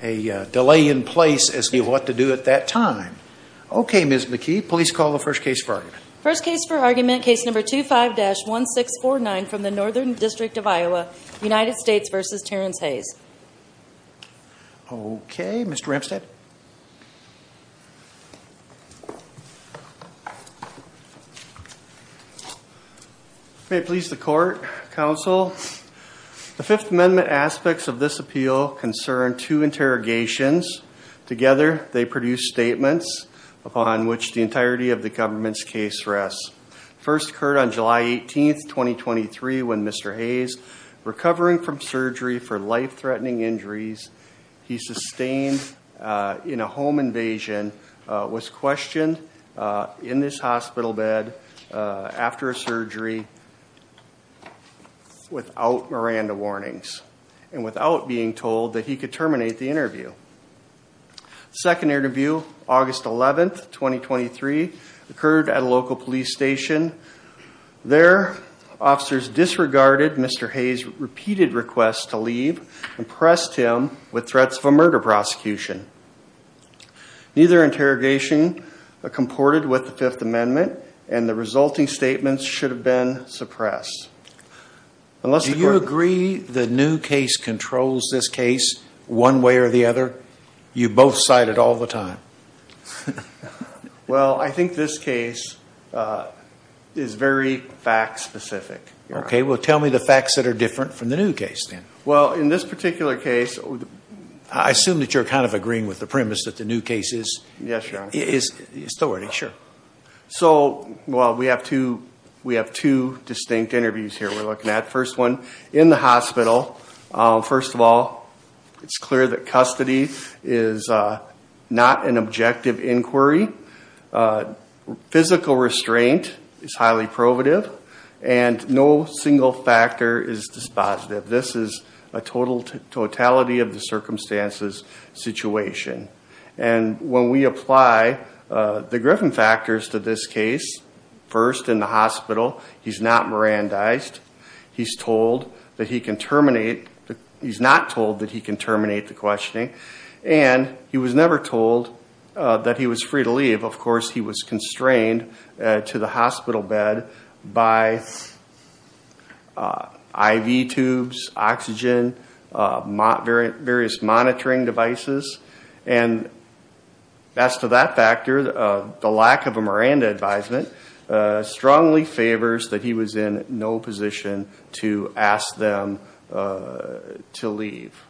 May it please the Court, Counsel, the Fifth Amendment aspects of this appeal concern two interrogations. Together they produced statements upon which the entirety of the government's case rests. First occurred on July 18th, 2023 when Mr. Hayes, recovering from surgery for life-threatening injuries he sustained in a home invasion, was questioned in this hospital bed after a surgery without Miranda warnings and without being told that he could terminate the interview. Second interview August 11th, 2023 occurred at a local police station. There officers disregarded Mr. Hayes repeated requests to leave and pressed him with threats of a murder prosecution. Neither interrogation comported with the resulting statements should have been suppressed. Do you agree the new case controls this case one way or the other? You both cite it all the time. Well I think this case is very fact-specific. Okay well tell me the facts that are different from the new case then. Well in this particular case I assume that you're kind of agreeing with the premise that the new case is still running. Sure. So well we have two distinct interviews here we're looking at. First one in the hospital. First of all it's clear that custody is not an objective inquiry. Physical restraint is highly probative and no single factor is dispositive. This is a total totality of the circumstances situation. And when we apply the Griffin factors to this case, first in the hospital he's not Mirandized. He's told that he can terminate, he's not told that he can terminate the questioning and he was never told that he was free to leave. Of course he was constrained to the hospital bed by IV tubes, oxygen, various monitoring devices and as to that factor the lack of a Miranda advisement strongly favors that he was in no position to ask them to leave.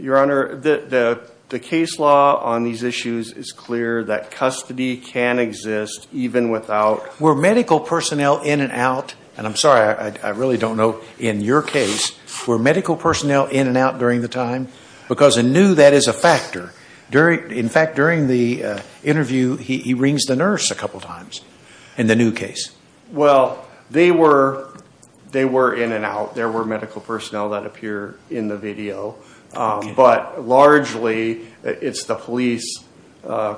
Your Honor, the case law on these issues is clear that custody can exist even without... Were medical personnel in and out, and I'm sorry I really don't know in your case, were medical personnel in and out during the time? Because in new that is a factor. In fact during the interview he rings the nurse a couple times in the new case. Well they were in and out, there were medical personnel that appear in the video, but largely it's the police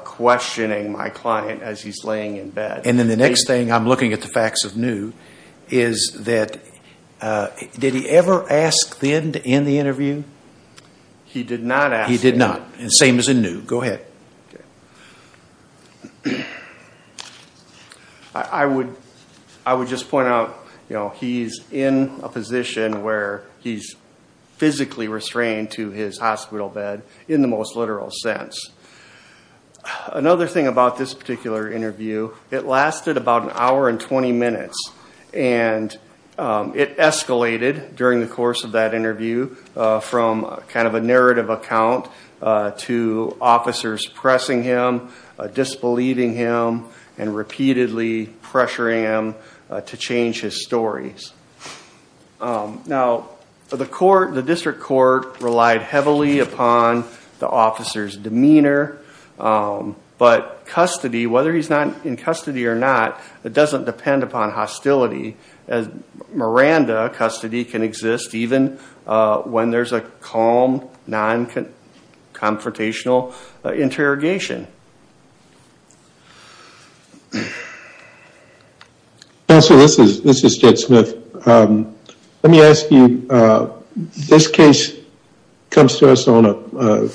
questioning my client as he's laying in bed. And then the next thing, I'm looking at the facts of new, is that did he ever ask them to end the interview? He did not and same as in new, go ahead. I would just point out he's in a position where he's physically restrained to his hospital bed in the most literal sense. Another thing about this particular interview, it lasted about an hour and 20 minutes and it escalated during the course of that interview from kind of a narrative account to officers pressing him, disbelieving him, and repeatedly pressuring him to change his stories. Now the court, the district court, relied heavily upon the officer's demeanor, but custody, whether he's not in custody or not, it doesn't depend upon hostility. As Miranda, custody can exist even when there's a calm, non-confrontational interrogation. Counselor, this is Jed Smith. Let me ask you, this case comes to us on a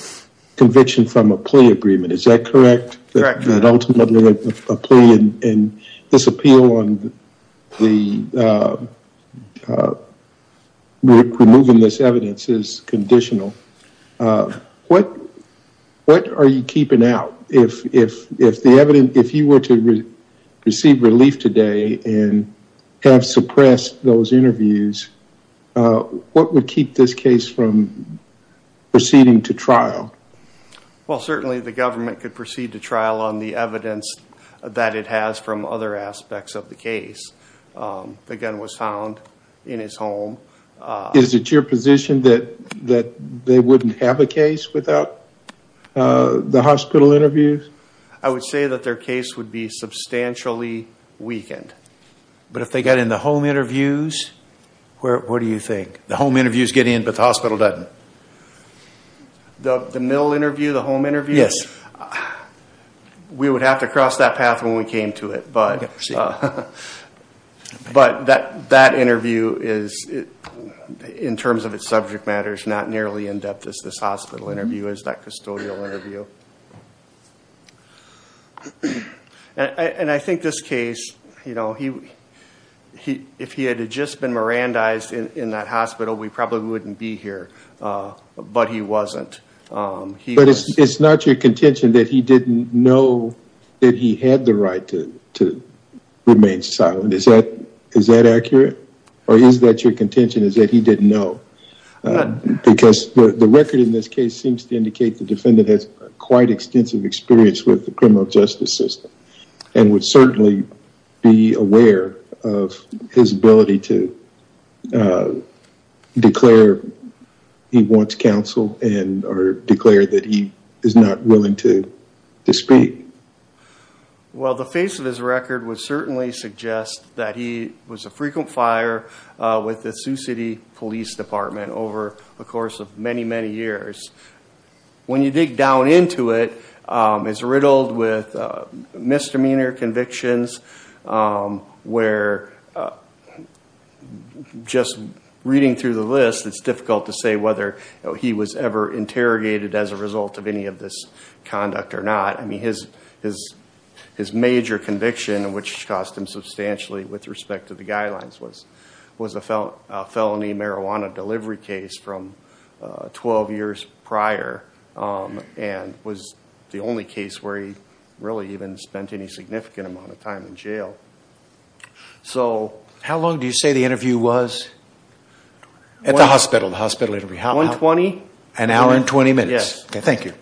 conviction from a plea agreement, is that correct? That ultimately a plea and this appeal on removing this evidence is conditional. What are you keeping out? If the evidence, if you were to receive relief today and have suppressed those interviews, what would keep this case from proceeding to trial? Well certainly the government could proceed to trial on the evidence that it has from other aspects of the case. The gun was found in his home. Is it your position that they wouldn't have a case without the hospital interviews? I would say that their case would be substantially weakened. But if they got in the home interviews, what do you think? The home interviews get in but the hospital doesn't? The mill interview, the home interview? Yes. We would have to go that path when we came to it. But that interview, in terms of its subject matter, is not nearly in depth as this hospital interview is, that custodial interview. And I think this case, you know, if he had just been Mirandized in that hospital, we probably wouldn't be here. But he wasn't. But it's not your contention that he didn't know that he had the right to remain silent. Is that accurate? Or is that your contention is that he didn't know? Because the record in this case seems to indicate the defendant has quite extensive experience with the criminal justice system and would certainly be aware of his ability to declare he wants counsel and or declare that he is not willing to speak. Well, the face of his record would certainly suggest that he was a frequent fire with the Sioux City Police Department over the course of many, many years. When you dig down into it, it's riddled with misdemeanor convictions where just reading through the list, it's difficult to say whether he was ever interrogated as a result of any of this conduct or not. I mean, his major conviction, which cost him substantially with respect to the guidelines, was a felony marijuana delivery case from 12 years prior and was the only case where he really even spent any significant amount of time in jail. So how long do you say the interview was? At the hospital. The hospital interview. One twenty? An hour and twenty minutes. Yes. Thank you.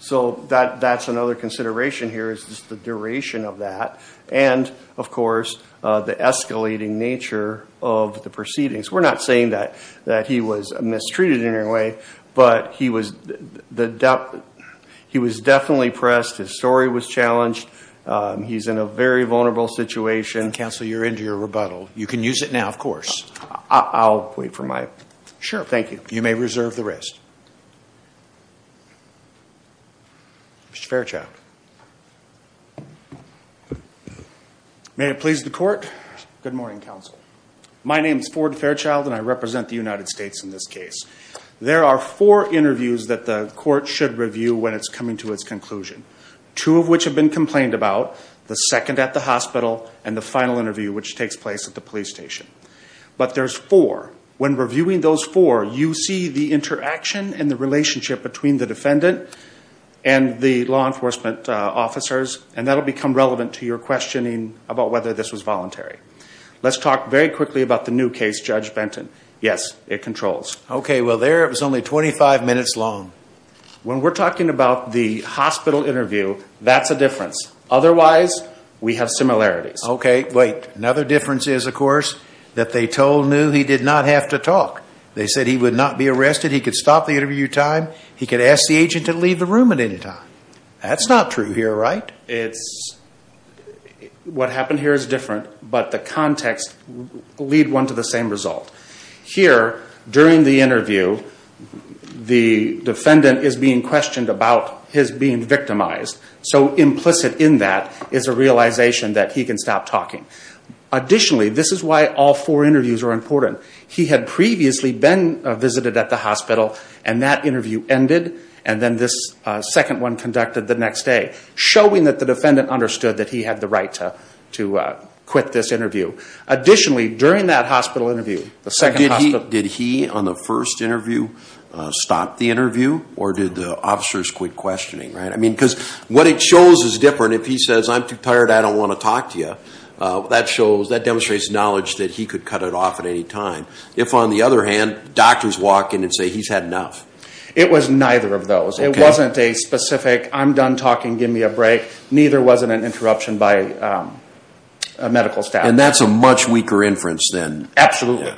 So that that's another consideration here is the duration of that and of course the escalating nature of the proceedings. We're not saying that that he was mistreated in any way, but he was definitely pressed. His story was challenged. He's in a very vulnerable situation. Counsel, you're into your rebuttal. You can use it now, of course. I'll wait for my... Sure. Thank you. You may reserve the rest. Mr. Fairchild. May it please the court. Good morning, counsel. My name is Ford Fairchild and I represent the United States in this case. There are four interviews that the court should review when it's coming to its conclusion. Two of which have been complained about. The second at the hospital and the final interview, which takes place at the police station. But there's four. When reviewing those four, you see the interaction and the relationship between the defendant and the law enforcement officers and that will become relevant to your questioning about whether this was voluntary. Let's talk very quickly about the new case, Judge Benton. Yes, it controls. Okay, well there it was only 25 minutes long. When we're talking about the hospital interview, that's a difference. Otherwise, we have similarities. Okay, wait. Another difference is, of course, that they told New he did not have to talk. They said he would not be arrested. He could stop the interview time. He could ask the agent to leave the room at any time. That's not true here, right? It's... What happened here is different, but the context lead one to the same result. Here, during the interview, the defendant is being questioned about his being victimized. So implicit in that is a realization that he can stop talking. Additionally, this is why all four interviews are important. He had previously been visited at the hospital and that interview ended and then this second one conducted the next day, showing that the defendant understood that he had the right to quit this interview. Additionally, during that hospital interview... Did he, on the first interview, stop the interview or did the officers quit questioning, right? I mean, because what it shows is different. If he says, I'm too tired, I don't want to talk to you, that shows, that demonstrates knowledge that he could cut it off at any time. If, on the other hand, doctors walk in and say he's had enough. It was neither of those. It wasn't a specific, I'm done talking, give me a break. Neither was it an interruption by a medical staff. And that's a much weaker inference then. Absolutely.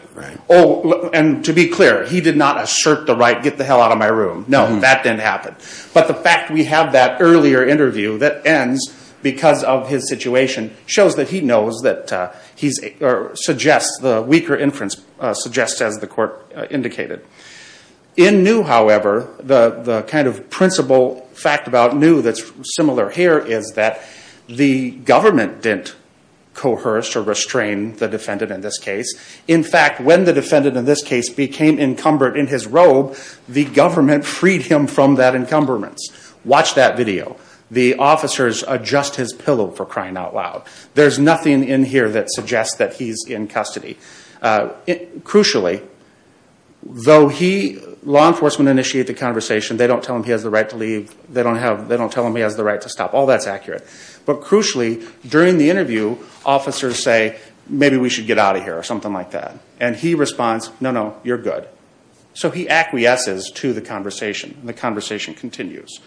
Oh, and to be clear, he did not assert the right, get the hell out of my room. No, that didn't happen. But the fact we have that earlier interview that ends because of his situation shows that he knows that he's... suggests the weaker inference suggests, as the court indicated. In New, however, the kind of principle fact about New that's similar here is that the government didn't coerce or restrain the defendant in this case. In fact, when the defendant in this case became encumbered in his robe, the government freed him from that encumberment. Watch that video. The officers adjust his pillow for crying out loud. There's nothing in here that suggests that he's in custody. Crucially, though he, law enforcement initiate the conversation, they don't tell him he has the right to leave. They don't have, they don't tell him he has the right to stop. All that's accurate. But crucially, during the interview, officers say, maybe we should get out of here or something like that. And he responds, no, no, you're good. So he acquiesces to the conversation. The conversation continues.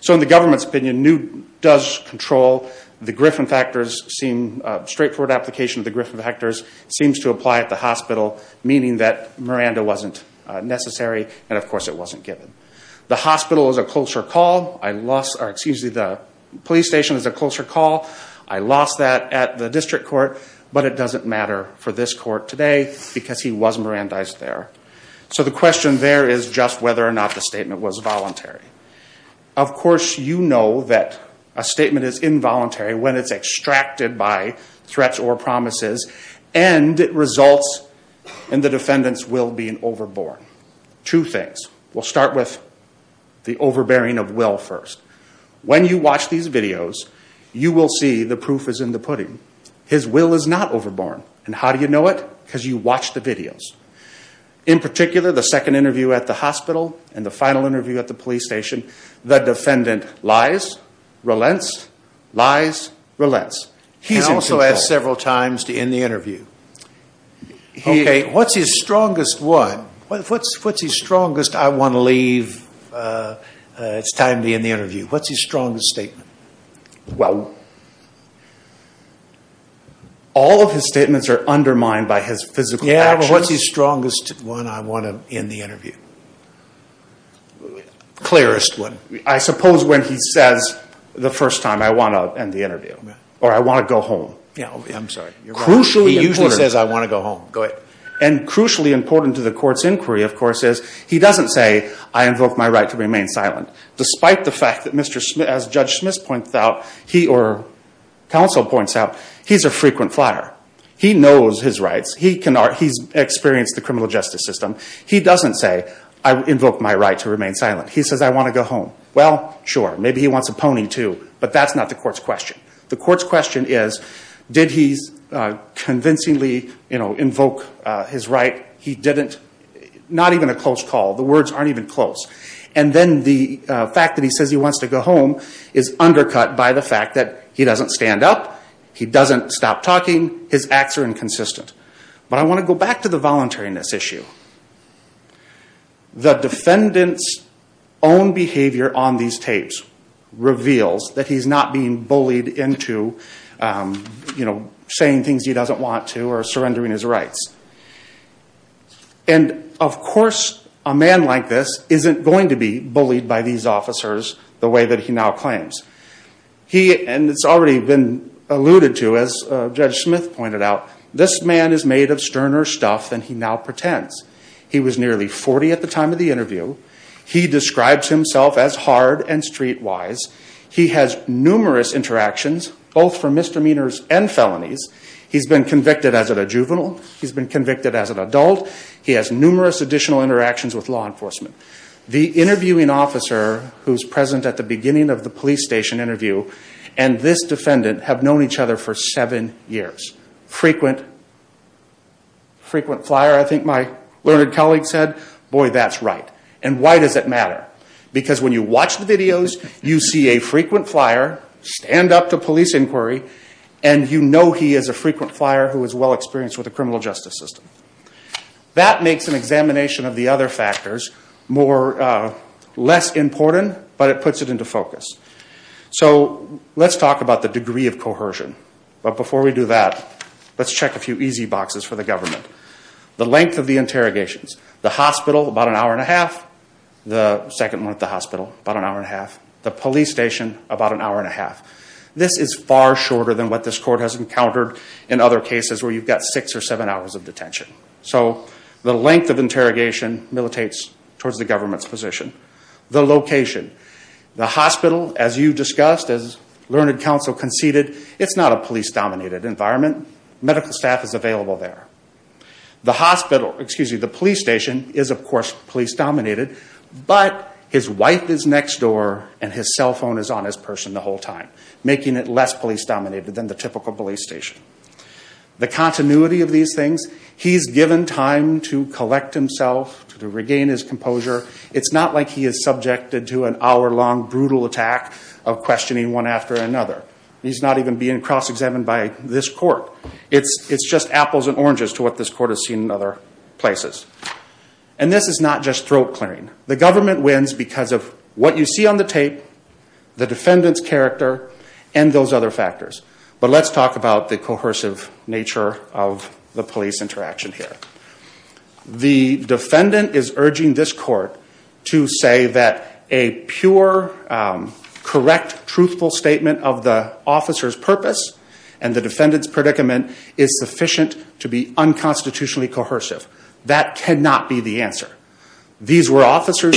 So in the government's opinion, New does control the Griffin factors, seem straightforward application of the Griffin factors, seems to apply at the hospital, meaning that Miranda wasn't necessary and, of course, it wasn't given. The hospital is a closer call. I lost, or excuse me, the police station is a closer call. I lost that at the district court, but it doesn't matter for this court today because he was Mirandized there. So the question there is just whether or not the statement was voluntary. Of course, you know that a statement is involuntary when it's extracted by threats or promises and it results in the defendant's will being overborn. Two things. We'll start with the overbearing of will first. When you watch these videos, you will see the proof is in the pudding. His will is not overborn. And how do you know it? Because you watch the videos. In particular, the second interview at the hospital and the final interview at the police station, the defendant lies, relents, lies, relents. He's in control. And also has several times to end the interview. Okay, what's his strongest one? What's his strongest, I want to leave, it's time to end the interview. What's his strongest statement? Well, all of his statements are undermined by his physical actions. Yeah, but what's his strongest one, I want to end the interview? Clearest one. I suppose when he says the first time, I want to end the interview. Or I want to go home. Yeah, I'm sorry. He usually says, I want to go home. Go ahead. And crucially important to the court's inquiry, of course, is he doesn't say, I invoke my right to remain silent. Despite the fact that Mr. Smith, as Judge Smith points out, he, or counsel points out, he's a frequent flyer. He knows his rights. He's experienced the criminal justice system. He doesn't say, I invoke my right to remain silent. He says, I want to go home. Well, sure, maybe he wants a pony, too. But that's not the court's question. The court's question is, did he convincingly invoke his right? He didn't. Not even a close call. The words aren't even close. And then the fact that he says he wants to go home is undercut by the fact that he doesn't stand up. He doesn't stop talking. His acts are inconsistent. But I want to go back to the voluntariness issue. The defendant's own behavior on these tapes reveals that he's not being bullied into saying things he doesn't want to or surrendering his rights. And, of course, a man like this isn't going to be bullied by these officers the way that he now claims. He, and it's already been alluded to, as Judge Smith pointed out, this man is made of sterner stuff than he now pretends. He was nearly 40 at the time of the interview. He describes himself as hard and streetwise. He has numerous interactions, both for misdemeanors and felonies. He's been convicted as a juvenile. He's been convicted as an adult. He has numerous additional interactions with law enforcement. The interviewing officer who's present at the beginning of the police station interview and this defendant have known each other for seven years. Frequent flyer, I think my learned colleague said. Boy, that's right. And why does it matter? Because when you watch the videos, you see a frequent flyer, stand up to police inquiry, and you know he is a frequent flyer who is well-experienced with the criminal justice system. That makes an examination of the other factors less important, but it puts it into focus. So let's talk about the degree of cohesion. But before we do that, let's check a few easy boxes for the government. The length of the interrogations. The hospital, about an hour and a half. The second one at the hospital, about an hour and a half. The police station, about an hour and a half. This is far shorter than what this court has encountered in other cases where you've got six or seven hours of detention. So the length of interrogation militates towards the government's position. The location. The hospital, as you discussed, as learned counsel conceded, it's not a police-dominated environment. Medical staff is available there. The hospital, excuse me, the police station is, of course, police-dominated, but his wife is next door and his cell phone is on his person the whole time, making it less police- He's given time to collect himself, to regain his composure. It's not like he is subjected to an hour-long brutal attack of questioning one after another. He's not even being cross-examined by this court. It's just apples and oranges to what this court has seen in other places. And this is not just throat clearing. The government wins because of what you see on the tape, the defendant's character, and those other factors. But let's talk about the nature of the police interaction here. The defendant is urging this court to say that a pure, correct, truthful statement of the officer's purpose and the defendant's predicament is sufficient to be unconstitutionally coercive. That cannot be the answer. These were officers-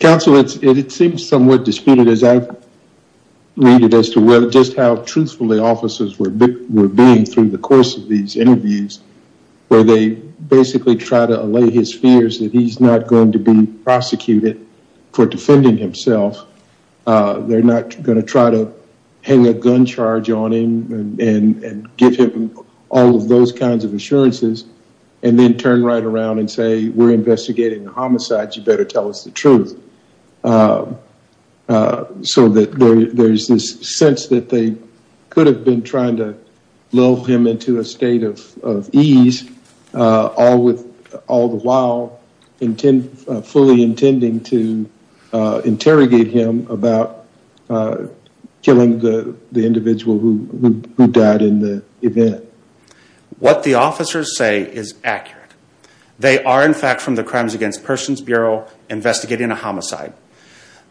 Counsel, it seems somewhat disputed, as I read it, as to whether just how where they basically try to allay his fears that he's not going to be prosecuted for defending himself. They're not going to try to hang a gun charge on him and give him all of those kinds of assurances and then turn right around and say, we're investigating a homicide. You better tell us the truth. So there's this sense that they could have been trying to lull him into a state of ease, all the while fully intending to interrogate him about killing the individual who died in the event. What the officers say is accurate. They are, in fact, from the Crimes Against Persons Bureau investigating a homicide.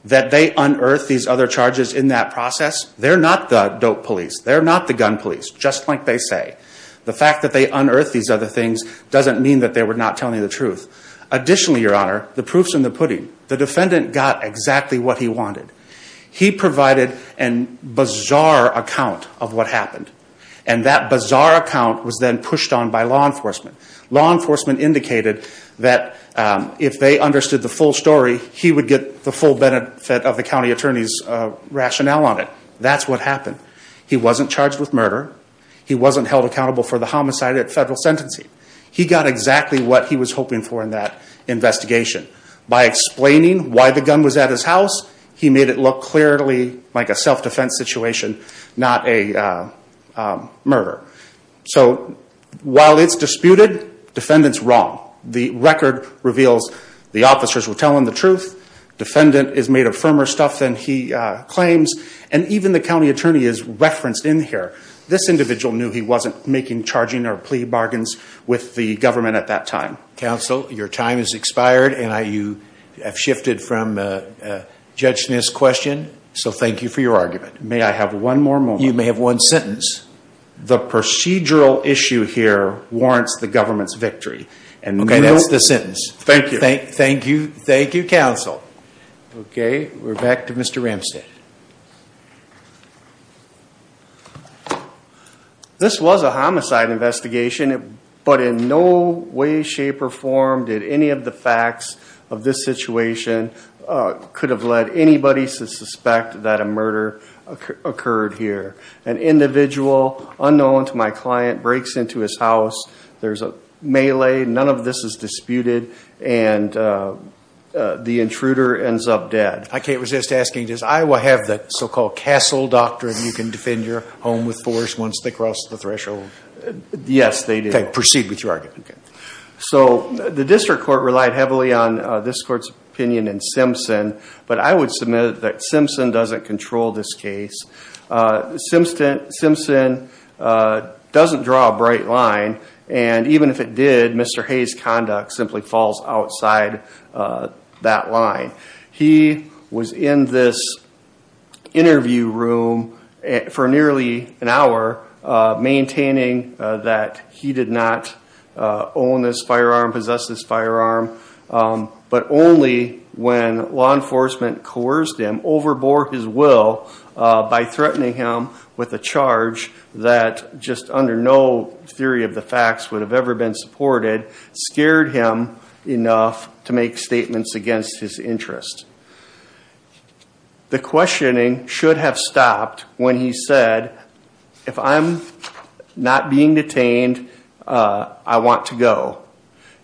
That they unearthed these other charges in that process, they're not the dope police. They're not the gun police, just like they say. The fact that they unearthed these other things doesn't mean that they were not telling the truth. Additionally, Your Honor, the proof's in the pudding. The defendant got exactly what he wanted. He provided a bizarre account of what happened. And that bizarre account was then pushed on by law enforcement. Law enforcement indicated that if they understood the full story, he would get the full benefit of the county attorney's rationale on it. That's what happened. He wasn't charged with murder. He wasn't held accountable for the homicide at federal sentencing. He got exactly what he was hoping for in that investigation. By explaining why the gun was at his house, he made it look clearly like a self-defense situation, not a murder. So, while it's disputed, defendant's wrong. The record reveals the officers were telling the truth, defendant is made of firmer stuff than he claims, and even the county attorney is referenced in here. This individual knew he wasn't making charging or plea bargains with the government at that time. Counsel, your time has expired and you have shifted from judging this question. So thank you for your argument. May I have one more moment? You may have one sentence. The procedural issue here warrants the government's victory. Okay, that's the sentence. Thank you. Thank you, counsel. Okay, we're back to Mr. Ramstad. This was a homicide investigation, but in no way, shape, or form did any of the facts of this situation could have led anybody to suspect that a murder occurred here. An individual, unknown to my client, breaks into his house, there's a melee, none of this is disputed, and the intruder ends up dead. I can't resist asking, does Iowa have the so-called castle doctrine, you can defend your home with force once they cross the threshold? Yes, they do. Okay, proceed with your argument. So, the district court relied heavily on this court's opinion in Simpson, but I would submit that Simpson doesn't control this case. Simpson doesn't draw a bright line, and even if it did, Mr. Hayes' conduct simply falls outside that line. He was in this interview room for nearly an hour, maintaining that he did not own this firearm, possess this firearm, but only when law enforcement coerced him, overbore his will by threatening him with a charge that, just under no theory of the facts would have ever been supported, scared him enough to make statements against his interest. The questioning should have stopped when he said, if I'm not being detained, I want to go.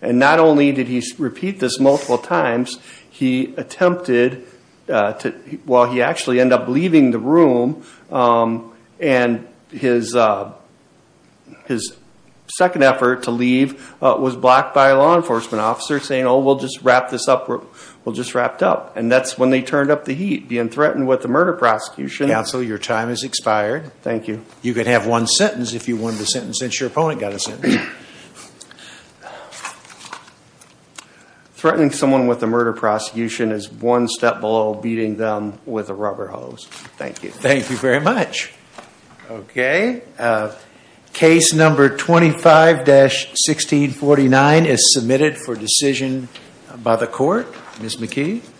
And not only did he repeat this multiple times, he attempted, well, he actually ended up leaving the room, and his second effort to leave was blocked by a law enforcement officer saying, oh, we'll just wrap this up, we'll just wrap it up. And that's when they turned up the heat, being threatened with a murder prosecution. Counsel, your time has expired. Thank you. You could have one sentence if you wanted a sentence, since your opponent got a Threatening someone with a murder prosecution is one step below beating them with a rubber hose. Thank you. Thank you very much. Okay. Case number 25-1649 is submitted for decision by the court. Ms. McKee.